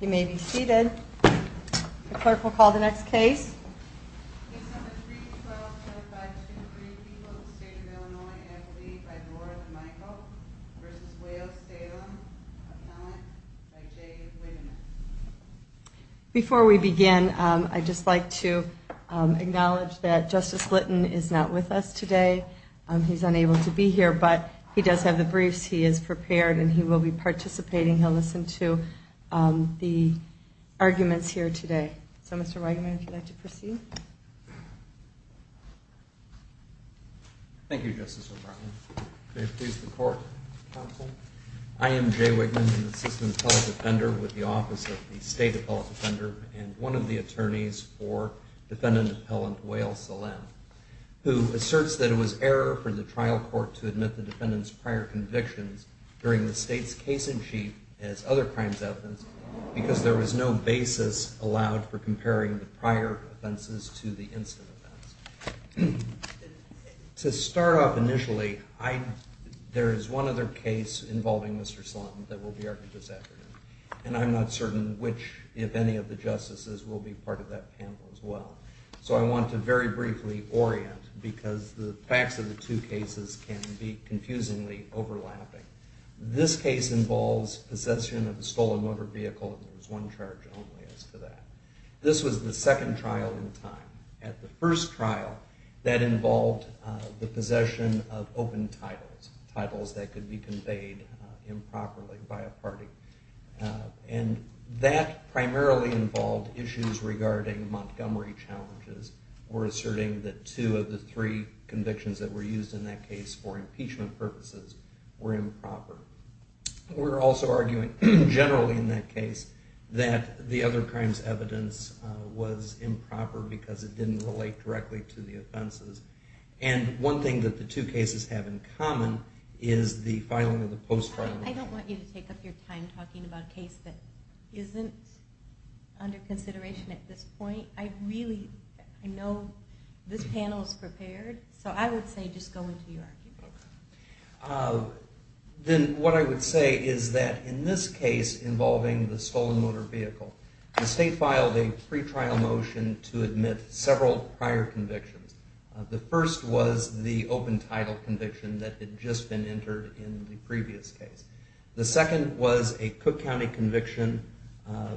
You may be seated. The clerk will call the next case. Before we begin, I just like to acknowledge that Justice Litton is not with us today. He's unable to be here, but he does have the briefs. He is the arguments here today. So, Mr. Wigeman, would you like to proceed? Thank you, Justice O'Brien. May it please the court, counsel. I am Jay Wigman, an assistant appellate defender with the Office of the State Appellate Defender and one of the attorneys for defendant appellant Wael Salem, who asserts that it was error for the trial court to admit the defendant's prior convictions during the state's case-in-chief as other crimes evidence because there was no basis allowed for comparing the prior offenses to the incident. To start off initially, there is one other case involving Mr. Slanton that will be argued this afternoon, and I'm not certain which, if any, of the justices will be part of that panel as well. So, I want to very briefly orient because the facts of the two cases can be confusingly overlapping. This case involves possession of a stolen motor vehicle, and there was one charge only as to that. This was the second trial in time. At the first trial, that involved the possession of open titles, titles that could be conveyed improperly by a party, and that primarily involved issues regarding Montgomery challenges. We're asserting that two of the three convictions that were used in that case for impeachment purposes were improper. We're also arguing, generally in that case, that the other crimes evidence was improper because it didn't relate directly to the offenses, and one thing that the two cases have in common is the filing of the post-trial. I don't want you to take up your time talking about a case that isn't under prepared, so I would say just go into your argument. Then what I would say is that in this case involving the stolen motor vehicle, the state filed a pretrial motion to admit several prior convictions. The first was the open title conviction that had just been entered in the previous case. The second was a Cook County conviction, a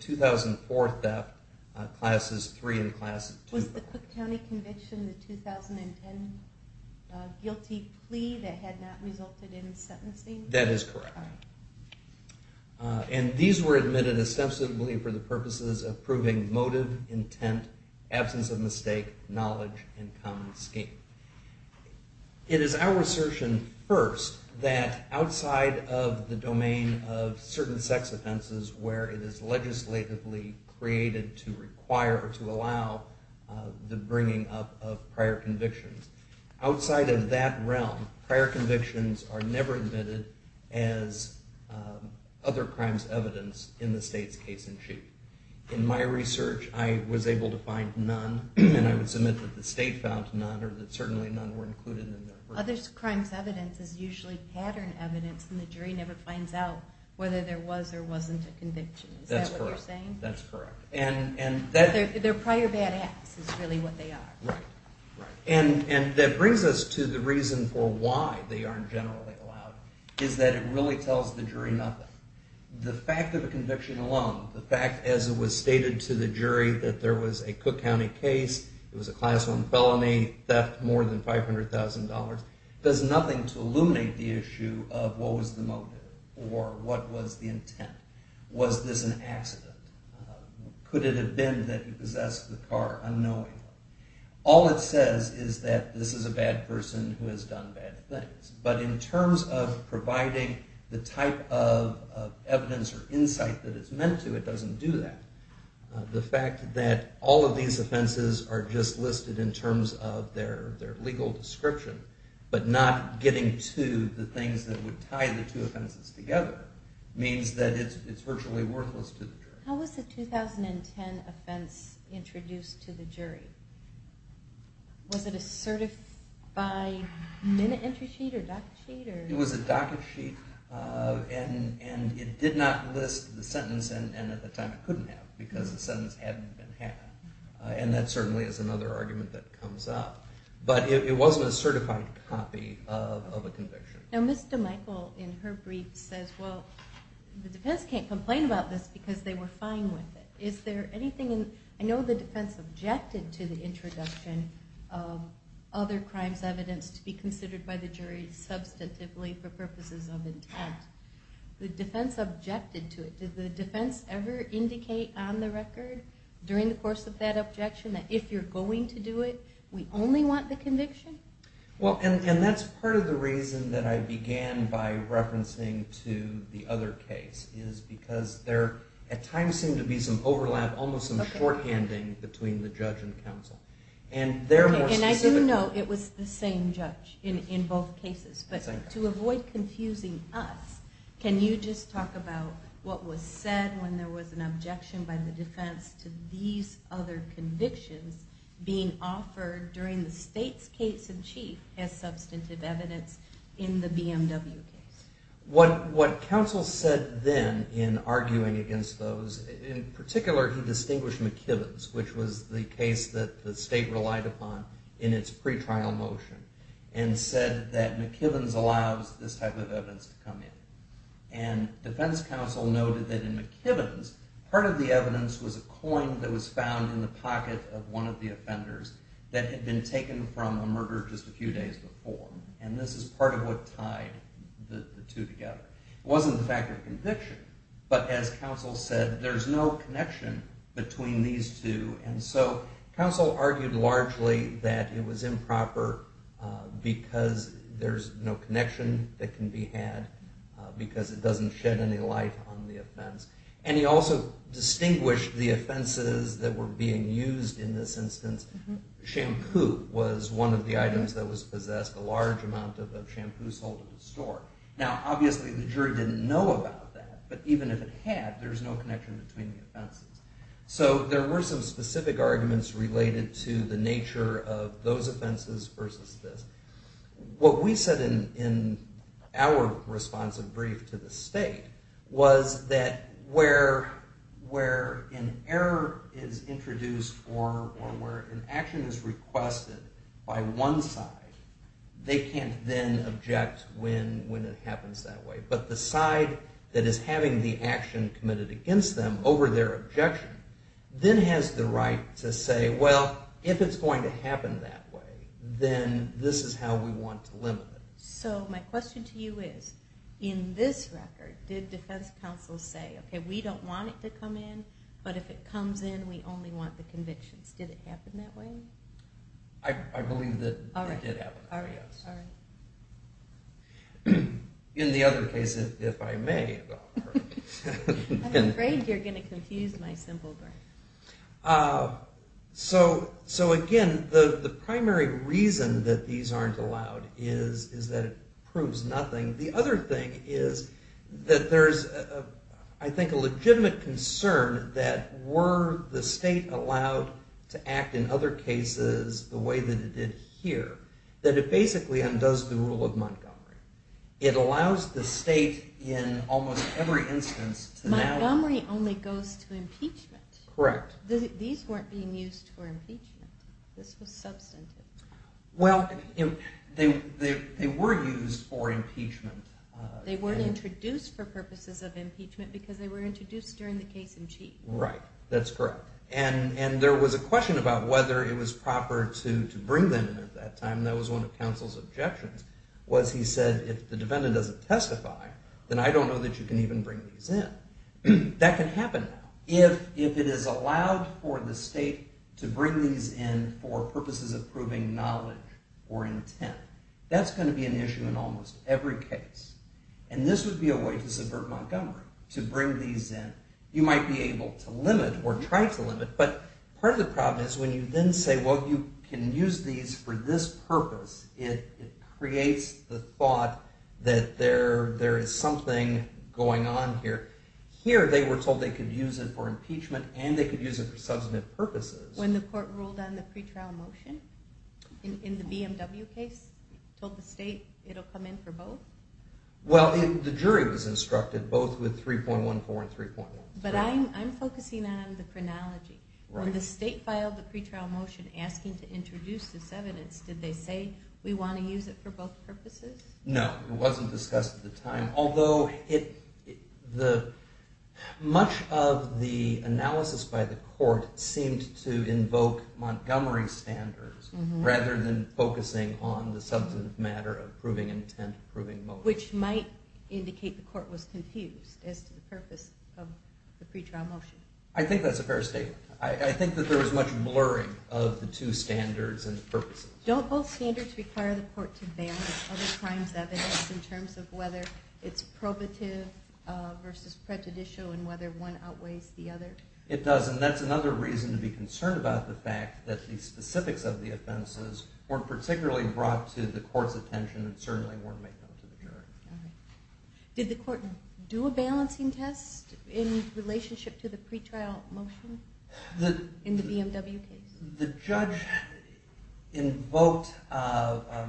2004 theft, Classes 3 and 2. Was the Cook County conviction the 2010 guilty plea that had not resulted in sentencing? That is correct, and these were admitted ostensibly for the purposes of proving motive, intent, absence of mistake, knowledge, and common scheme. It is our assertion first that outside of the domain of certain sex offenses where it is legislatively created to require or to allow the bringing up of prior convictions, outside of that realm prior convictions are never admitted as other crimes evidence in the state's case-in-chief. In my research, I was able to find none, and I would submit that the state found none, or that certainly none were included. Other crimes evidence is usually pattern evidence, and the jury never finds out whether there was or wasn't a conviction. Is that what you're saying? That's correct, and their prior bad acts is really what they are. And that brings us to the reason for why they aren't generally allowed, is that it really tells the jury nothing. The fact of a conviction alone, the fact as it was stated to the jury that there was a Cook County case, it was a Class 1 felony, theft more than $500,000, does nothing to illuminate the issue of what was the motive, or what was the intent. Was this an accident? Could it have been that he possessed the car unknowingly? All it says is that this is a bad person who has done bad things, but in terms of providing the type of evidence or insight that it's meant to, it doesn't do that. The fact that all of these offenses are just listed in terms of their legal description, but not getting to the things that would tie the two offenses together, means that it's virtually worthless to the jury. How was the 2010 offense introduced to the jury? Was it a certified minute entry sheet or docket sheet? It was a docket sheet, and it did not list the sentence, and at the time it couldn't have, because the sentence hadn't been had. And that certainly is another argument that comes up. But it wasn't a certified copy of a conviction. Now, Ms. DeMichel, in her brief, says, well, the defense can't complain about this because they were fine with it. Is there anything in, I know the defense objected to the introduction of other crimes evidence to be considered by the jury substantively for purposes of intent. The defense objected to it. Did the defense ever indicate on the record during the course of that objection that if you're going to do it, we only want the conviction? Well, and that's part of the reason that I began by referencing to the other case, is because there at times seemed to be some overlap, almost some shorthanding between the judge and counsel. And they're more specific. And I do know it was the same judge in both cases. But to avoid confusing us, can you just talk about what was said when there was an objection by the defense to other convictions being offered during the state's case in chief as substantive evidence in the BMW case? What counsel said then in arguing against those, in particular he distinguished McKibben's, which was the case that the state relied upon in its pretrial motion, and said that McKibben's allows this type of evidence to come in. And defense counsel noted that in McKibben's, part of the evidence was a coin that was found in the pocket of one of the offenders that had been taken from a murderer just a few days before. And this is part of what tied the two together. It wasn't the fact of conviction, but as counsel said, there's no connection between these two. And so counsel argued largely that it was improper because there's no connection that can be had because it doesn't shed any light on the offense. And he also distinguished the offenses that were being used in this instance. Shampoo was one of the items that was possessed, a large amount of shampoo sold at the store. Now obviously the jury didn't know about that, but even if it had, there's no connection between the offenses. So there were some specific arguments related to the nature of those offenses versus this. What we said in our responsive brief to the state was that where an error is introduced or where an action is requested by one side, they can't then object when it happens that way. But the side that is having the action committed against them over their objection then has the right to say, well, if it's going to happen that way, then this is how we want to limit it. So my question to you is, in this record, did defense counsel say, okay, we don't want it to come in, but if it comes in, we only want the convictions. Did it happen that way? I believe that it did happen that way. In the other case, if I may. I'm afraid you're going to confuse my symbol. So again, the primary reason that these aren't allowed is that it proves nothing. The other thing is that there's, I think, a legitimate concern that were the state allowed to act in other cases the way that it did here, that it basically undoes the rule of Montgomery. It allows the defendant to bring these in. Correct. These weren't being used for impeachment. This was substantive. Well, they were used for impeachment. They weren't introduced for purposes of impeachment because they were introduced during the case in chief. Right. That's correct. And there was a question about whether it was proper to bring them in at that time. That was one of counsel's objections was he said, if it is allowed for the state to bring these in for purposes of proving knowledge or intent, that's going to be an issue in almost every case. And this would be a way to subvert Montgomery, to bring these in. You might be able to limit or try to limit, but part of the problem is when you then say, well, you can use these for this purpose, it creates the thought that there is something going on here. Here, they were told they could use it for impeachment and they could use it for substantive purposes. When the court ruled on the pretrial motion in the BMW case, told the state it will come in for both? Well, the jury was instructed both with 3.14 and 3.13. But I'm focusing on the chronology. When the state filed the pretrial motion asking to introduce this evidence, did they say we want to use it for both purposes? No, it wasn't discussed at the time. Although much of the analysis by the court seemed to invoke Montgomery's standards rather than focusing on the substantive matter of proving intent, proving motive. Which might indicate the court was confused as to the purpose of the pretrial motion. I think that's a fair statement. I think that there was much blurring of the two standards and purposes. Don't both standards require the court to balance other crimes evidence in terms of whether it's probative versus prejudicial and whether one outweighs the other? It doesn't. That's another reason to be concerned about the fact that the specifics of the offenses weren't particularly brought to the court's attention and certainly weren't made known to the jury. Did the court do a balancing test in relationship to the pretrial motion in the BMW case? The judge invoked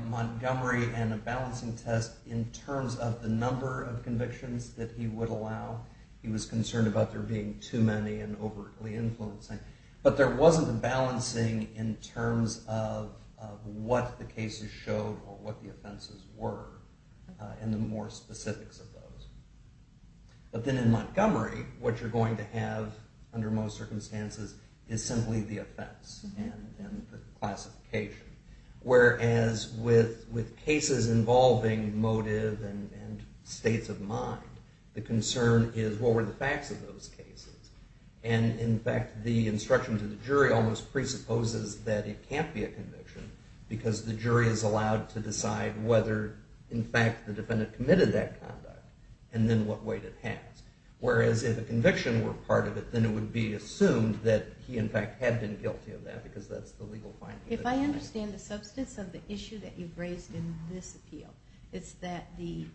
Montgomery and a balancing test in terms of the number of convictions that he would allow. He was concerned about there being too many and overtly influencing. But there wasn't a balancing in terms of what the cases showed or what the offenses were and the more specifics of those. But then in Montgomery, what you're going to have under most circumstances is simply the offense and the classification. Whereas with cases involving motive and states of mind, the concern is what were the facts of those cases? And in fact, the instruction to the jury almost presupposes that it can't be a conviction because the jury is allowed to decide whether, in fact, the defendant committed that conduct and then what weight it has. Whereas if a conviction were part of it, then it would be assumed that he, in fact, had been guilty of that because that's the legal finding. If I understand the substance of the issue that you've raised in this appeal, it's that the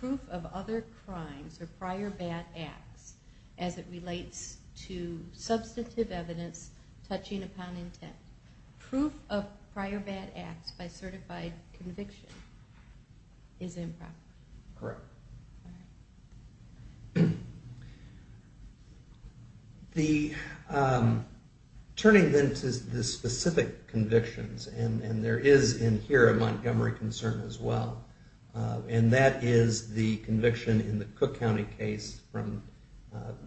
proof of other crimes or prior bad acts as it relates to substantive evidence touching upon intent. Proof of prior bad acts by certified conviction is improper. Correct. Turning then to the specific convictions, and there is in here a Montgomery concern as well, and that is the conviction in the Cook County case from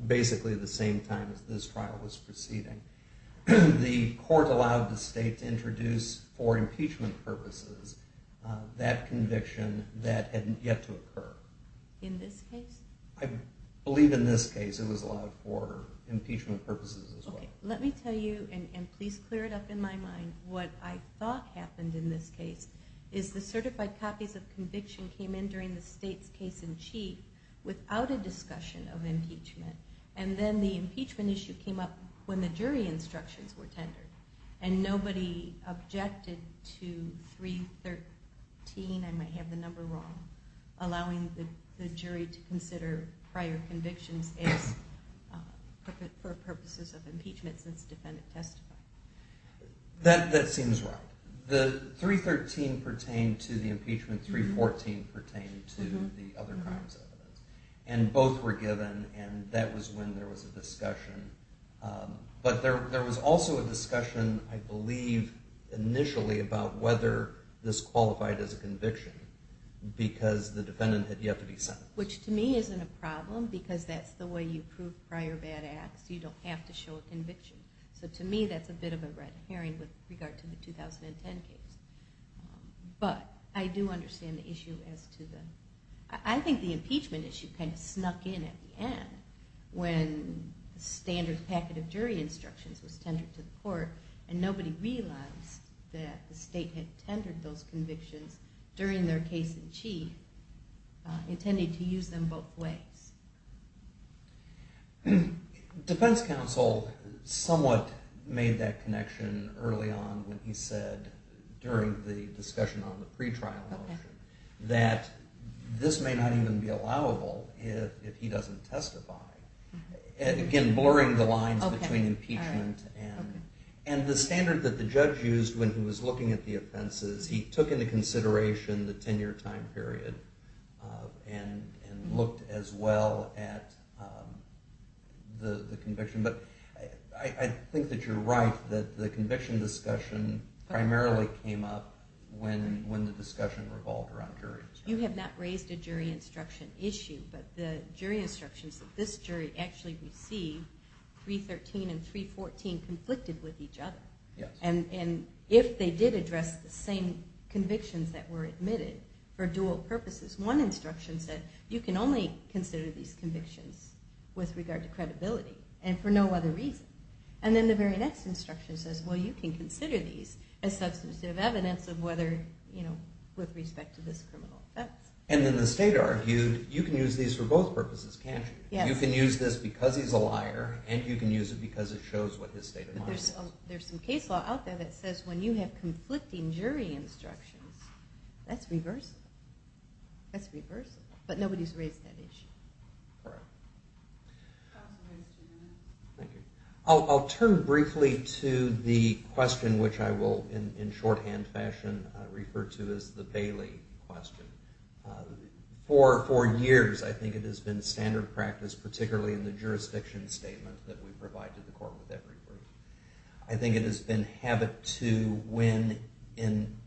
basically the same time as this trial was proceeding. The court allowed the state to introduce for impeachment purposes that conviction that hadn't yet to occur. In this case? I believe in this case it was allowed for impeachment purposes as well. Let me tell you, and please clear it up in my mind, what I thought happened in this case is the certified copies of conviction came in during the state's case-in-chief without a discussion of impeachment. And then the impeachment issue came up when the jury instructions were allowing the jury to consider prior convictions for purposes of impeachment since the defendant testified. That seems right. The 313 pertained to the impeachment, 314 pertained to the other crimes, and both were given, and that was when there was a discussion. But there was also a discussion, I believe, initially about whether this defendant had yet to be sentenced. Which to me isn't a problem because that's the way you prove prior bad acts. You don't have to show a conviction. So to me that's a bit of a red herring with regard to the 2010 case. But I do understand the issue as to the, I think the impeachment issue kind of snuck in at the end when the standard packet of jury instructions was tendered to the court, and nobody realized that the state had tendered those convictions during their case-in-chief, intended to use them both ways. Defense counsel somewhat made that connection early on when he said during the discussion on the pretrial motion that this may not even be allowable if he doesn't testify. Again, blurring the lines between impeachment and the standard that the jury had given the consideration, the 10-year time period, and looked as well at the conviction. But I think that you're right that the conviction discussion primarily came up when the discussion revolved around jury instruction. You have not raised a jury instruction issue, but the jury instructions that this jury actually received, 313 and 314, conflicted with each other. And if they did address the same convictions that were admitted for dual purposes, one instruction said, you can only consider these convictions with regard to credibility, and for no other reason. And then the very next instruction says, well, you can consider these as substantive evidence of whether, you know, with respect to this criminal offense. And then the state argued, you can use these for both purposes, can't you? You can use this because he's a liar, and you can use it because it shows what his state of mind is. There's some case law out there that says when you have conflicting jury instructions, that's reversal. That's reversal. But nobody's raised that issue. Correct. I'll turn briefly to the question which I will, in shorthand fashion, refer to as the Bailey question. For years, I think it has been standard practice, particularly in the I think it has been habit to when, and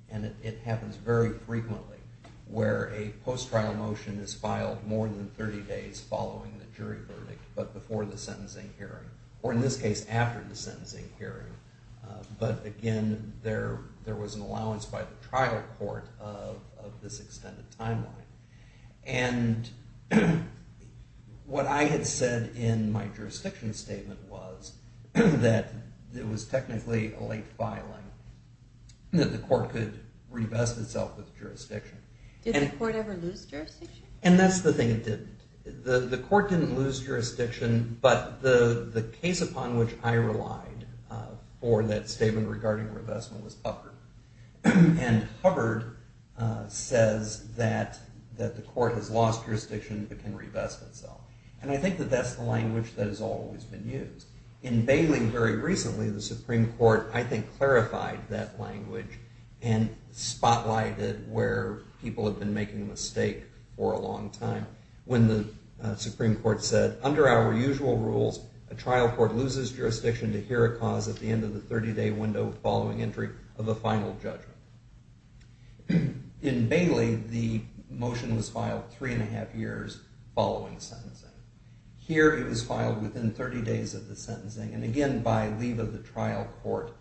it happens very frequently, where a post-trial motion is filed more than 30 days following the jury verdict, but before the sentencing hearing, or in this case, after the sentencing hearing. But again, there was an allowance by the trial court of this extended timeline. And what I had said in my jurisdiction statement was that it was technically a late filing, that the court could revest itself with jurisdiction. Did the court ever lose jurisdiction? And that's the thing, it didn't. The court didn't lose jurisdiction, but the case upon which I relied for that statement regarding revestment was Hubbard. And Hubbard says that the court has lost jurisdiction but can revest itself. And I think that that's the language that has always been used. In Bailey, very recently, the Supreme Court, I think, clarified that language and spotlighted where people have been making a mistake for a long time. When the Supreme Court said, under our usual rules, a trial court loses jurisdiction to hear a cause at the end of the 30-day window following entry of a final judgment. In Bailey, the motion was filed three and a half years following sentencing. Here, it was filed within 30 days of the sentencing, and again, by leave of the trial court,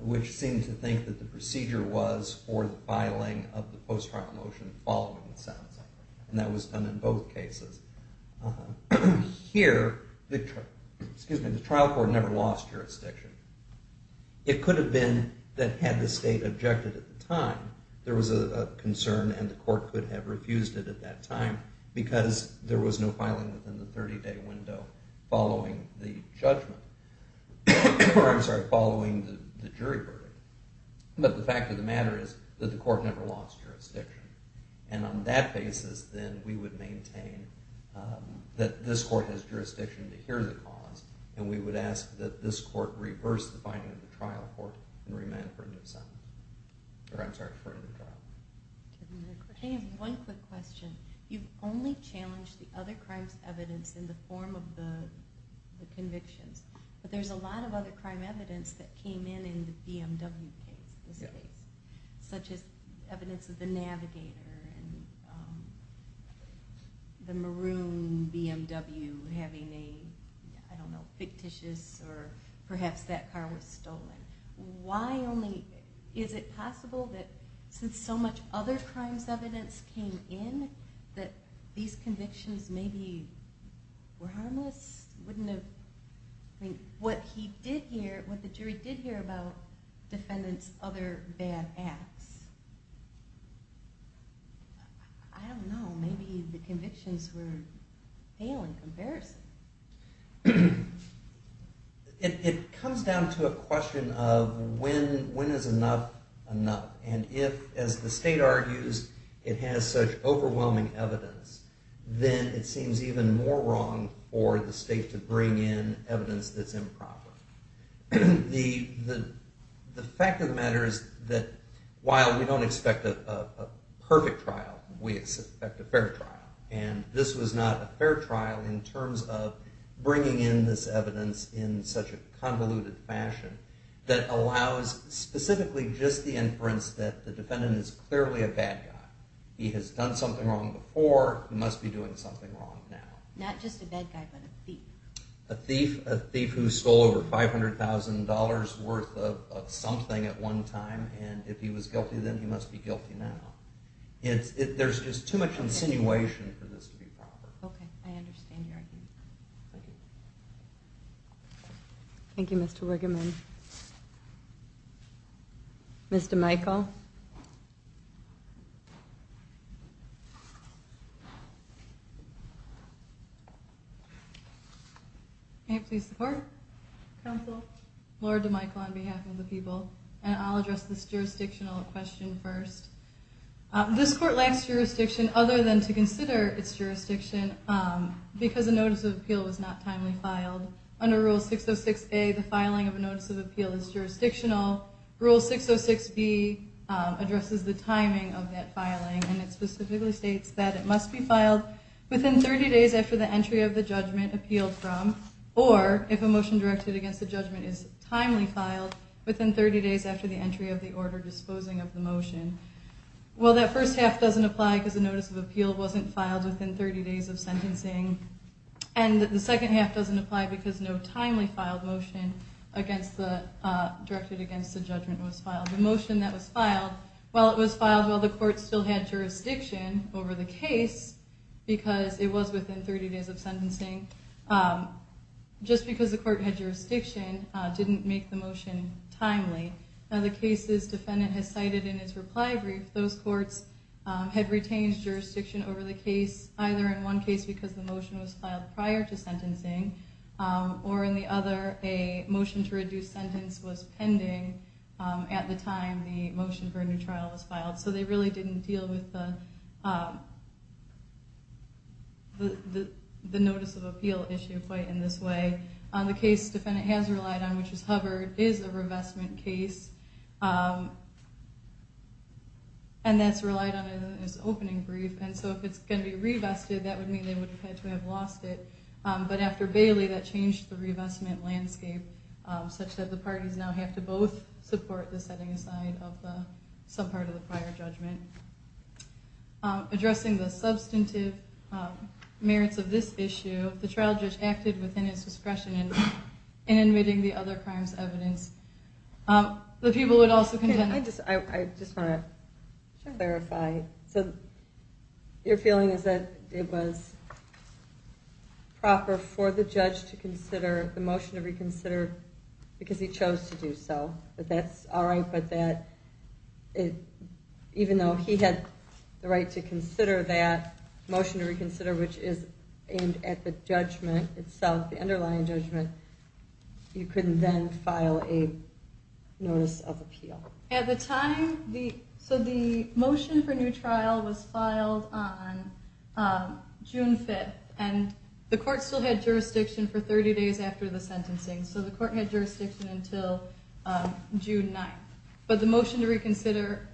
which seemed to think that the procedure was for the filing of the post-trial motion following the sentencing. And that was done in both cases. Here, the trial court never lost jurisdiction. It could have been that had the state objected at the time, there was a concern and the court could have refused it at that time because there was no filing within the 30-day window following the judgment. Or, I'm sorry, following the jury verdict. But the fact of the matter is that the court never lost jurisdiction. And on that basis, then, we would maintain that this court has reversed the finding of the trial court and remanded for a new sentence. Or, I'm sorry, for a new trial. I have one quick question. You've only challenged the other crimes' evidence in the form of the convictions, but there's a lot of other crime evidence that came in in the BMW case, this case, such as evidence of the Navigator and the Maroon BMW having a, I don't know, fictitious or perhaps that car was stolen. Why only, is it possible that since so much other crimes' evidence came in, that these convictions maybe were harmless? Wouldn't have, I mean, what he did hear, what the jury did hear about defendants' other bad acts, I don't know, maybe the convictions were in comparison. It comes down to a question of when is enough enough. And if, as the state argues, it has such overwhelming evidence, then it seems even more wrong for the state to bring in evidence that's improper. The fact of the matter is that while we don't expect a perfect trial, we expect a fair trial, and this was not a fair trial in terms of bringing in this evidence in such a convoluted fashion that allows specifically just the inference that the defendant is clearly a bad guy. He has done something wrong before. He must be doing something wrong now. Not just a bad guy, but a thief. A thief who stole over $500,000 worth of something at one time, and if he was guilty then he must be guilty now. There's just too much insinuation for this to be proper. Okay, I understand your argument. Thank you. Thank you, Mr. Wigeman. Ms. DeMichel? May I please support? Counsel, Laura DeMichel on behalf of the people, and I'll address this This court lacks jurisdiction other than to consider its jurisdiction because a notice of appeal was not timely filed. Under Rule 606A, the filing of a notice of appeal is jurisdictional. Rule 606B addresses the timing of that filing, and it specifically states that it must be filed within 30 days after the entry of the judgment appealed from, or if a motion directed against the judgment is timely filed, within 30 days after the entry of the order disposing of the motion. Well, that first half doesn't apply because the notice of appeal wasn't filed within 30 days of sentencing, and the second half doesn't apply because no timely filed motion directed against the judgment was filed. The motion that was filed, while it was filed while the court still had jurisdiction over the case, because it was within 30 days of sentencing, just because the court had jurisdiction didn't make the motion timely. Now, the cases defendant has cited in its reply brief, those courts had retained jurisdiction over the case, either in one case because the motion was filed prior to sentencing, or in the other, a motion to reduce sentence was pending at the time the motion for a new trial was filed. So they really didn't deal with the notice of appeal issue quite in this way. The case defendant has relied on, which is Hubbard, is a revestment case, and that's relied on in its opening brief, and so if it's going to be revested, that would mean they would have had to have lost it. But after Bailey, that changed the revestment landscape such that the parties now have to both support the setting aside of some part of the prior judgment. Addressing the substantive merits of this issue, if the trial judge acted within his discretion in admitting the other crimes evidence, the people would also contend that. I just want to clarify. So your feeling is that it was proper for the judge to consider the motion to reconsider because he chose to do so, that that's all right, but that even though he had the right to consider that motion to reconsider, which is aimed at the judgment itself, the underlying judgment, you couldn't then file a notice of appeal? At the time, so the motion for a new trial was filed on June 5th, and the court still had jurisdiction for 30 days after the sentencing, so the court had jurisdiction until June 9th. But the motion to reconsider,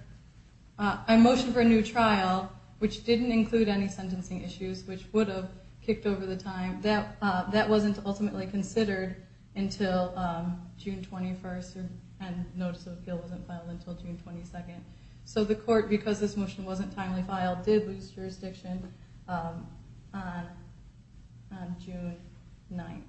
a motion for a new trial, which didn't include any sentencing issues which would have kicked over the time, that wasn't ultimately considered until June 21st and notice of appeal wasn't filed until June 22nd. So the court, because this motion wasn't timely filed, did lose jurisdiction on June 9th.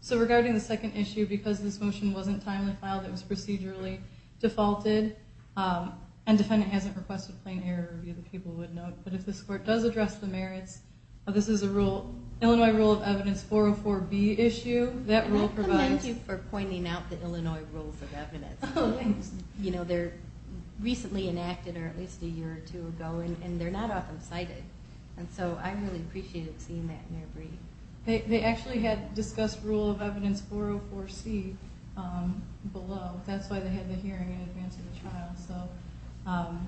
So regarding the second issue, because this motion wasn't timely filed, it was procedurally defaulted, and defendant hasn't requested plain error, either people would know, but if this court does address the merits, this is a rule, Illinois rule of evidence 404B issue, that rule provides. Thank you for pointing out the Illinois rules of evidence. You know, they're recently enacted or at least a year or two ago, and they're not often cited. And so I really appreciated seeing that in your brief. They actually had discussed rule of evidence 404C below. That's why they had the hearing in advance of the trial.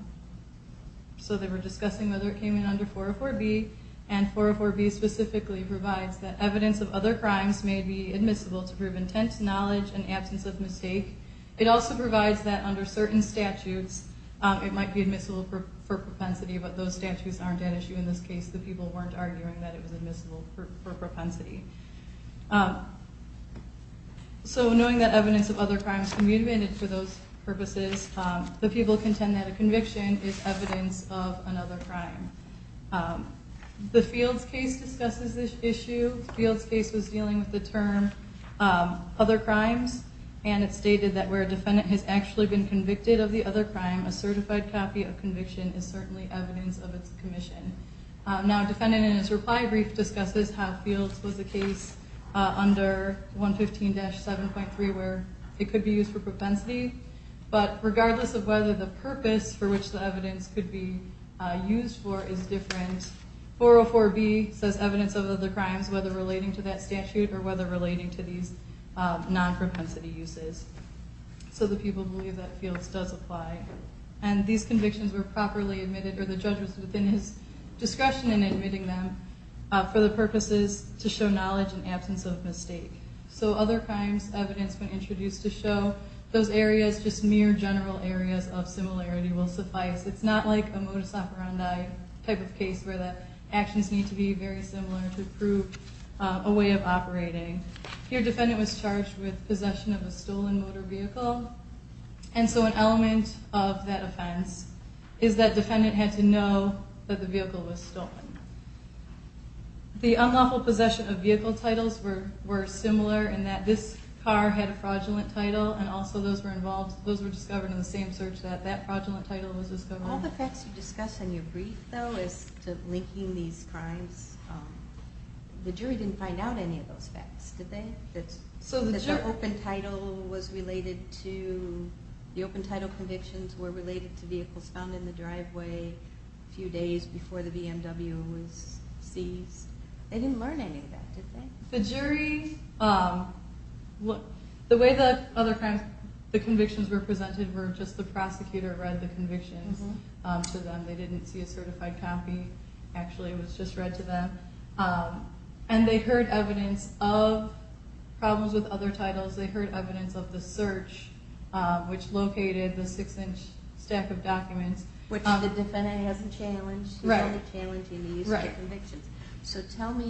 So they were discussing whether it came in under 404B, and 404B specifically provides that evidence of other crimes may be admissible to prove intent, knowledge, and absence of mistake. It also provides that under certain statutes it might be admissible for propensity, but those statutes aren't at issue in this case. The people weren't arguing that it was admissible for propensity. So knowing that evidence of other crimes can be amended for those purposes, the people contend that a conviction is evidence of another crime. The Fields case discusses this issue. The Fields case was dealing with the term other crimes, and it stated that where a defendant has actually been convicted of the other crime, a certified copy of conviction is certainly evidence of its commission. Now a defendant in his reply brief discusses how Fields was a case under 115-7.3 where it could be used for propensity, but regardless of whether the purpose for which the evidence could be used for is different, 404B says evidence of other crimes, whether relating to that statute or whether relating to these non-propensity uses. So the people believe that Fields does apply. And these convictions were properly admitted, or the judge was within his discretion in admitting them, for the purposes to show knowledge and absence of mistake. So other crimes evidence when introduced to show those areas, just mere general areas of similarity will suffice. It's not like a modus operandi type of case where the actions need to be very similar to prove a way of operating. Here defendant was charged with possession of a stolen motor vehicle, and so an element of that offense is that defendant had to know that the vehicle was stolen. The unlawful possession of vehicle titles were similar in that this car had a fraudulent title, and also those were discovered in the same search that that fraudulent title was discovered. All the facts you discuss in your brief, though, as to linking these crimes, the jury didn't find out any of those facts, did they? That the open title convictions were related to vehicles found in the driveway a few days before the BMW was seized? They didn't learn any of that, did they? The jury, the way the convictions were presented were just the prosecutor read the convictions to them. They didn't see a certified copy. Actually, it was just read to them. And they heard evidence of problems with other titles. They heard evidence of the search, which located the six-inch stack of documents. Which the defendant hasn't challenged. He's only challenging these convictions.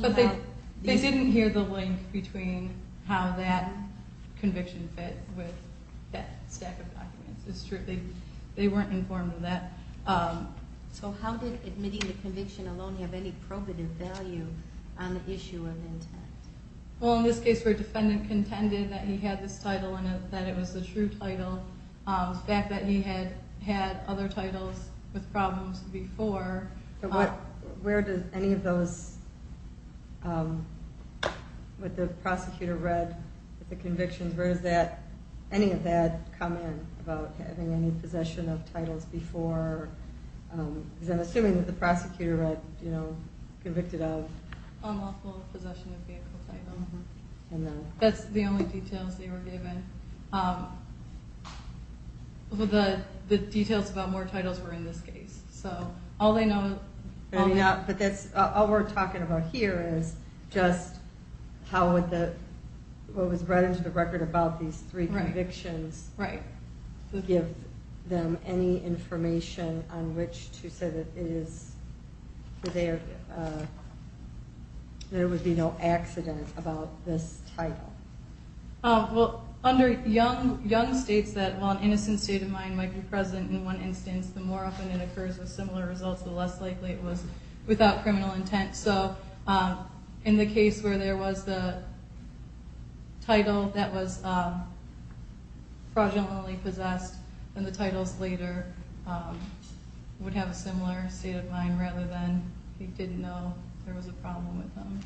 But they didn't hear the link between how that conviction fit with that stack of documents. It's true. They weren't informed of that. So how did admitting the conviction alone have any probative value on the issue of intent? Well, in this case where a defendant contended that he had this title and that it was a true title, the fact that he had had other titles with problems before. Where did any of those, what the prosecutor read with the convictions, where does any of that come in about having any possession of titles before? Because I'm assuming that the prosecutor read convicted of. Unlawful possession of vehicle titles. That's the only details they were given. The details about more titles were in this case. All we're talking about here is just what was read into the record about these three convictions. Right. Give them any information on which to say that there would be no accident about this title. Well, under young states that while an innocent state of mind might be present in one instance, the more often it occurs with similar results, the less likely it was without criminal intent. So in the case where there was the title that was fraudulently possessed, then the titles later would have a similar state of mind rather than he didn't know there was a problem with them.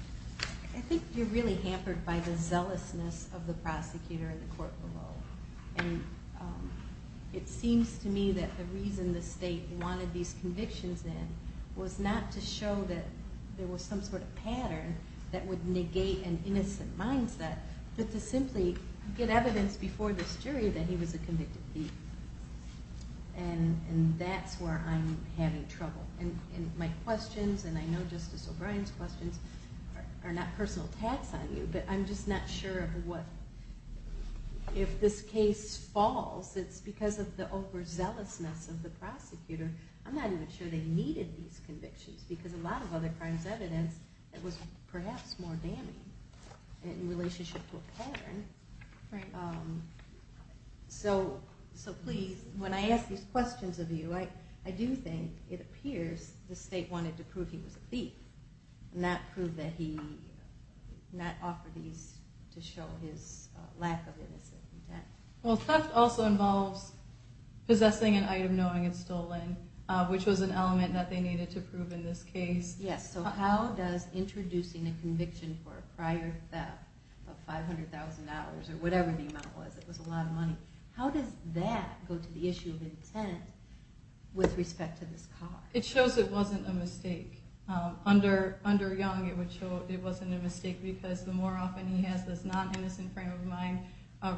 I think you're really hampered by the zealousness of the prosecutor in the court below. It seems to me that the reason the state wanted these convictions in was not to show that there was some sort of pattern that would negate an innocent mindset, but to simply get evidence before this jury that he was a convicted thief. And that's where I'm having trouble. My questions, and I know Justice O'Brien's questions, are not personal attacks on you, but I'm just not sure if this case falls. It's because of the overzealousness of the prosecutor. I'm not even sure they needed these convictions, because a lot of other crimes' evidence was perhaps more damning in relationship to a pattern. So please, when I ask these questions of you, I do think it appears the state wanted to prove he was a thief, not prove that he, not offer these to show his lack of innocent intent. Well, theft also involves possessing an item knowing it's stolen, which was an element that they needed to prove in this case. Yes, so how does introducing a conviction for a prior theft of 500,000 dollars, or whatever the amount was, it was a lot of money, how does that go to the issue of intent with respect to this car? It shows it wasn't a mistake. Under Young, it would show it wasn't a mistake, because the more often he has this non-innocent frame of mind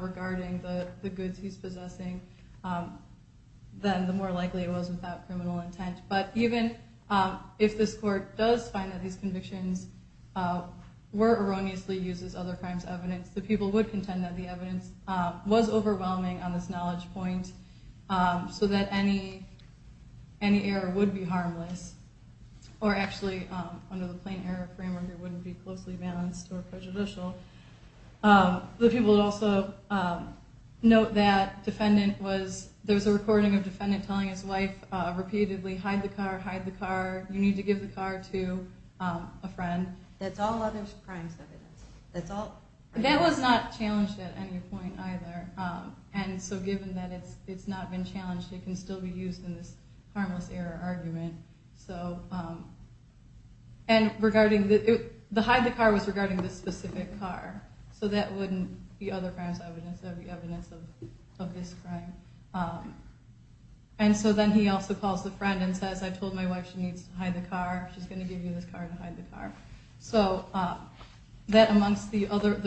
regarding the goods he's possessing, then the more likely it was without criminal intent. But even if this court does find that these convictions were erroneously used as other crimes' evidence, the people would contend that the evidence was overwhelming on this knowledge point, so that any error would be harmless, or actually, under the plain error framework, it wouldn't be closely balanced or prejudicial. The people would also note that there was a recording of the defendant telling his wife repeatedly, hide the car, hide the car, you need to give the car to a friend. That's all other crimes' evidence. That was not challenged at any point either. And so given that it's not been challenged, it can still be used in this harmless error argument. And regarding, the hide the car was regarding this specific car, so that wouldn't be other crimes' evidence, that would be evidence of this crime. And so then he also calls the friend and says, I told my wife she needs to hide the car, she's going to give you this car to hide the car. So that amongst the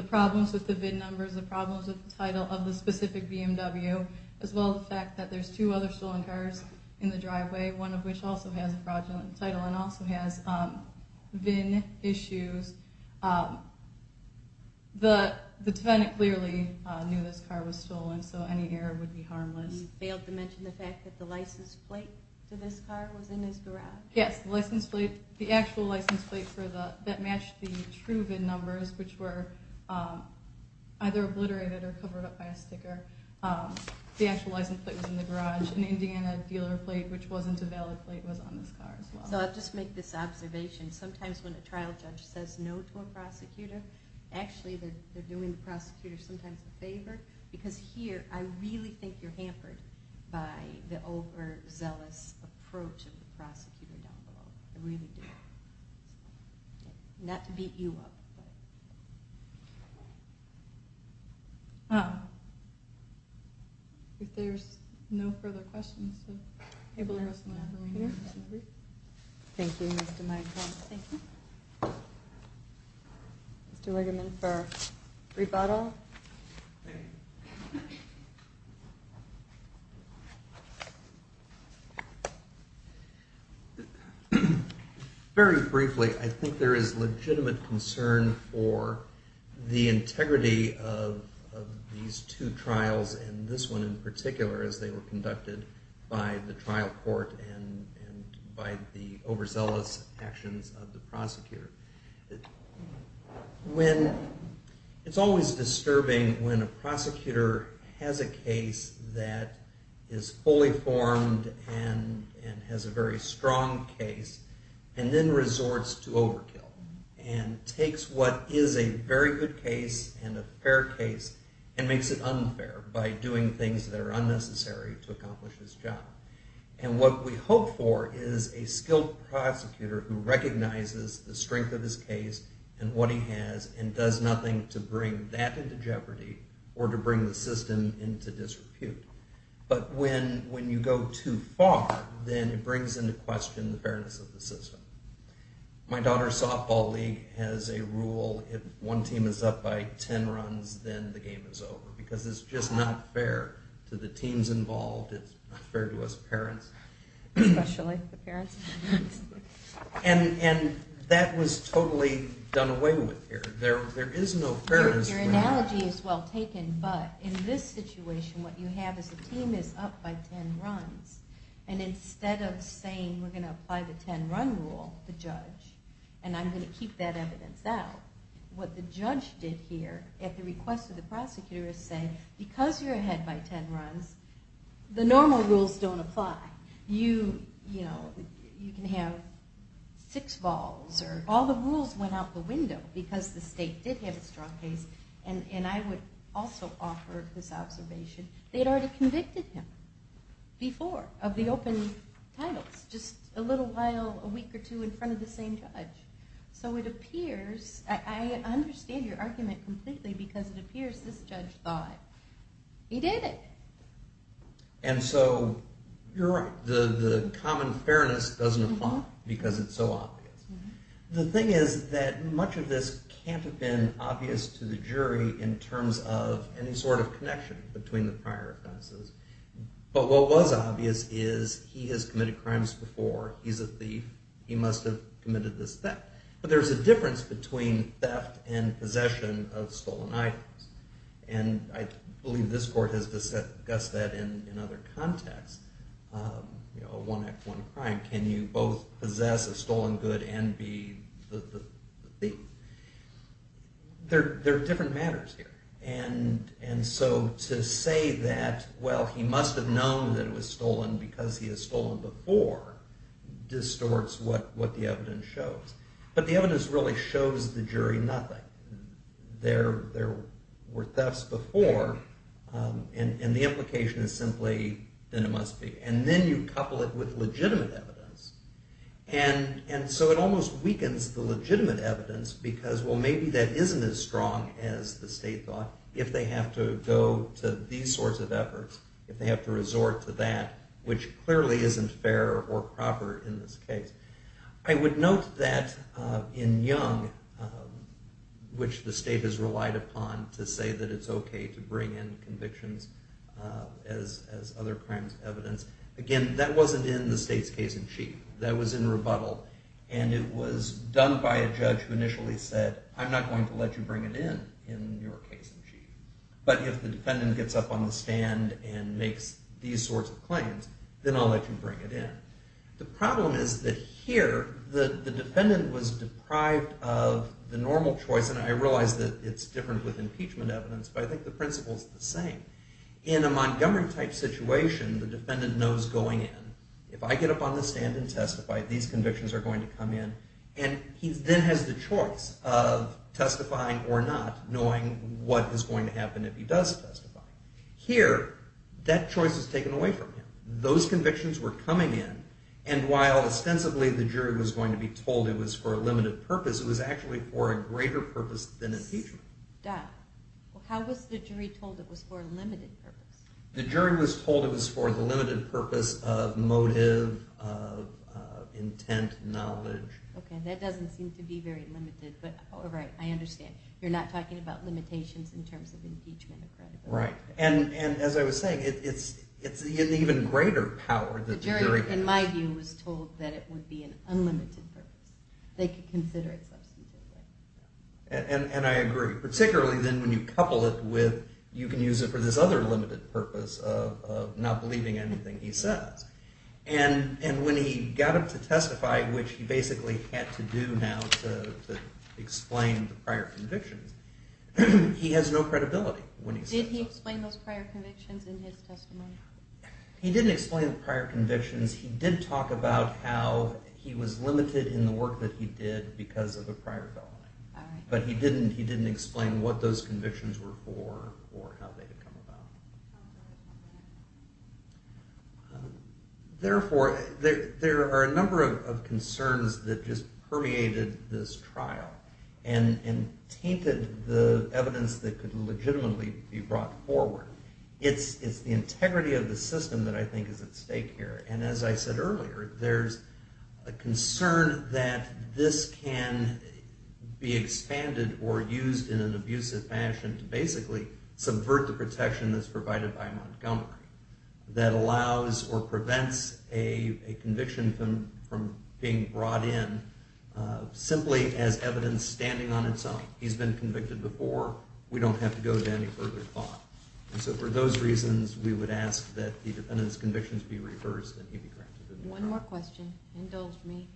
problems with the VIN numbers, the problems with the title of the specific BMW, as well as the fact that there's two other stolen cars in the driveway, one of which also has a fraudulent title and also has VIN issues, the defendant clearly knew this car was stolen, so any error would be harmless. You failed to mention the fact that the license plate to this car was in his garage. Yes, the actual license plate that matched the true VIN numbers, which were either obliterated or covered up by a sticker. The actual license plate was in the garage. An Indiana dealer plate, which wasn't a valid plate, was on this car as well. So I'll just make this observation. Sometimes when a trial judge says no to a prosecutor, actually they're doing the prosecutor sometimes a favor, because here I really think you're hampered by the overzealous approach of the prosecutor down below. I really do. Not to beat you up, but... If there's no further questions, I'm able to address them now. Thank you, Mr. Meitner. Thank you. Mr. Wigeman for rebuttal. Thank you. Very briefly, I think there is legitimate concern for the integrity of these two trials, and this one in particular, as they were conducted by the trial court and by the overzealous actions of the prosecutor. It's always disturbing when a prosecutor has a case that is fully formed and has a very strong case and then resorts to overkill and takes what is a very good case and a fair case and makes it unfair by doing things that are unnecessary to accomplish this job. And what we hope for is a skilled prosecutor who recognizes the strength of his case and what he has and does nothing to bring that into jeopardy or to bring the system into disrepute. But when you go too far, then it brings into question the fairness of the system. My daughter's softball league has a rule, if one team is up by 10 runs, then the game is over, because it's just not fair to the teams involved. It's not fair to us parents. Especially the parents. And that was totally done away with here. There is no fairness. Your analogy is well taken, but in this situation, what you have is a team is up by 10 runs, and instead of saying we're going to apply the 10-run rule, the judge, and I'm going to keep that evidence out, what the judge did here at the request of the prosecutor is say, because you're ahead by 10 runs, the normal rules don't apply. You can have six balls or all the rules went out the window because the state did have a strong case. And I would also offer this observation. They'd already convicted him before of the open titles, just a little while, a week or two in front of the same judge. So it appears, I understand your argument completely, because it appears this judge thought he did it. And so you're right. The common fairness doesn't apply because it's so obvious. The thing is that much of this can't have been obvious to the jury in terms of any sort of connection between the prior offenses. But what was obvious is he has committed crimes before. He's a thief. He must have committed this theft. But there's a difference between theft and possession of stolen items. And I believe this court has discussed that in other contexts, a one act, one crime. Can you both possess a stolen good and be the thief? They're different matters here. And so to say that, well, he must have known that it was stolen because he has stolen before, distorts what the evidence shows. But the evidence really shows the jury nothing. There were thefts before. And the implication is simply, then it must be. And then you couple it with legitimate evidence. And so it almost weakens the legitimate evidence because, well, maybe that isn't as strong as the state thought. If they have to go to these sorts of efforts, if they have to resort to that, which clearly isn't fair or proper in this case. I would note that in Young, which the state has relied upon to say that it's okay to bring in convictions as other crimes evidence. Again, that wasn't in the state's case in chief. That was in rebuttal. And it was done by a judge who initially said, I'm not going to let you bring it in in your case in chief. But if the defendant gets up on the stand and makes these sorts of claims, then I'll let you bring it in. The problem is that here, the defendant was deprived of the normal choice. And I realize that it's different with impeachment evidence, but I think the principle is the same. In a Montgomery type situation, the defendant knows going in, if I get up on the stand and testify, these convictions are going to come in. And he then has the choice of testifying or not, knowing what is going to happen if he does testify. Here, that choice is taken away from him. Those convictions were coming in, and while ostensibly the jury was going to be told it was for a limited purpose, it was actually for a greater purpose than impeachment. How was the jury told it was for a limited purpose? The jury was told it was for the limited purpose of motive, of intent, knowledge. You're not talking about limitations in terms of impeachment or credibility. And as I was saying, it's an even greater power that the jury has. The jury, in my view, was told that it would be an unlimited purpose. They could consider it substantively. And I agree. Particularly then when you couple it with, you can use it for this other limited purpose of not believing anything he says. And when he got up to testify, which he basically had to do now to explain the prior convictions, he has no credibility. Did he explain those prior convictions in his testimony? He didn't explain the prior convictions. He did talk about how he was limited in the work that he did because of a prior felony. But he didn't explain what those convictions were for or how they had come about. Therefore, there are a number of concerns that just permeated this trial and tainted the evidence that could legitimately be brought forward. It's the integrity of the system that I think is at stake here. And as I said earlier, there's a concern that this can be expanded or used in an abusive fashion to basically subvert the protection that's provided by Montgomery that allows or prevents a conviction from being brought in simply as evidence standing on its own. He's been convicted before. We don't have to go to any further thought. And so for those reasons, we would ask that the dependent's convictions be reversed and he be granted immunity. One more question. Indulge me.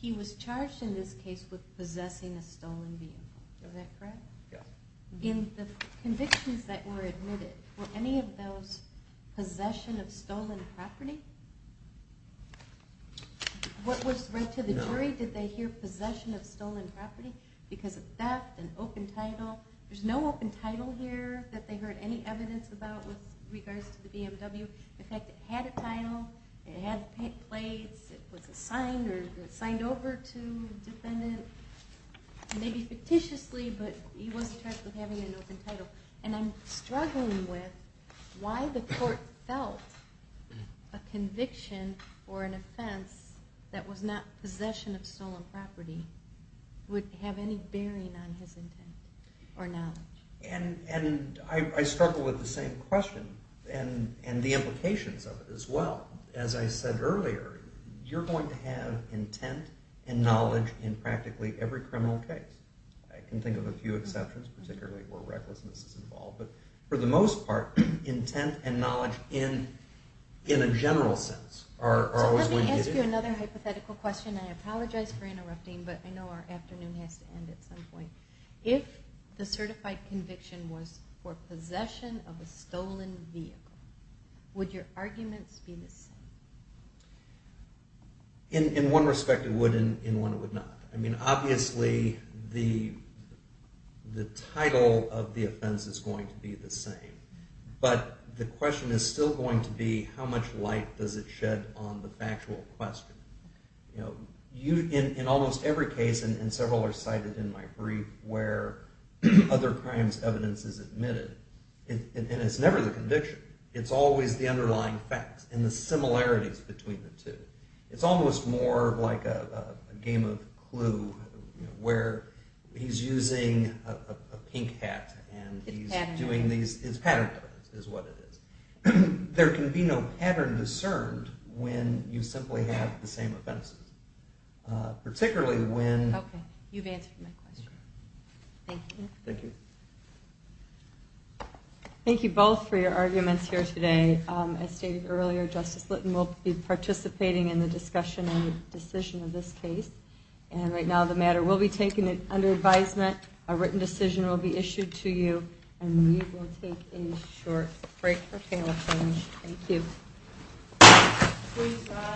He was charged in this case with possessing a stolen vehicle. Is that correct? Yes. In the convictions that were admitted, were any of those possession of stolen property? What was read to the jury? No. Did they hear possession of stolen property because of theft and open title? There's no open title here that they heard any evidence about with regards to the BMW. It had plates. It was signed or signed over to a defendant. Maybe fictitiously, but he was charged with having an open title. And I'm struggling with why the court felt a conviction or an offense that was not possession of stolen property would have any bearing on his intent or knowledge. And I struggle with the same question and the implications of it as well. As I said earlier, you're going to have intent and knowledge in practically every criminal case. I can think of a few exceptions, particularly where recklessness is involved. But for the most part, intent and knowledge in a general sense are always going to get you. Let me ask you another hypothetical question. I apologize for interrupting, but I know our afternoon has to end at some point. If the certified conviction was for possession of a stolen vehicle, would your arguments be the same? In one respect, it would, and in one, it would not. I mean, obviously, the title of the offense is going to be the same, but the question is still going to be how much light does it shed on the factual question. In almost every case, and several are cited in my brief, where other crimes evidence is admitted, and it's never the conviction. It's always the underlying facts and the similarities between the two. It's almost more like a game of Clue where he's using a pink hat and he's doing these. It's pattern evidence is what it is. There can be no pattern discerned when you simply have the same offenses, particularly when... Okay, you've answered my question. Thank you. Thank you. Thank you both for your arguments here today. As stated earlier, Justice Litton will be participating in the discussion and decision of this case, and right now the matter will be taken under advisement. A written decision will be issued to you, and we will take a short break for panel discussion. Thank you.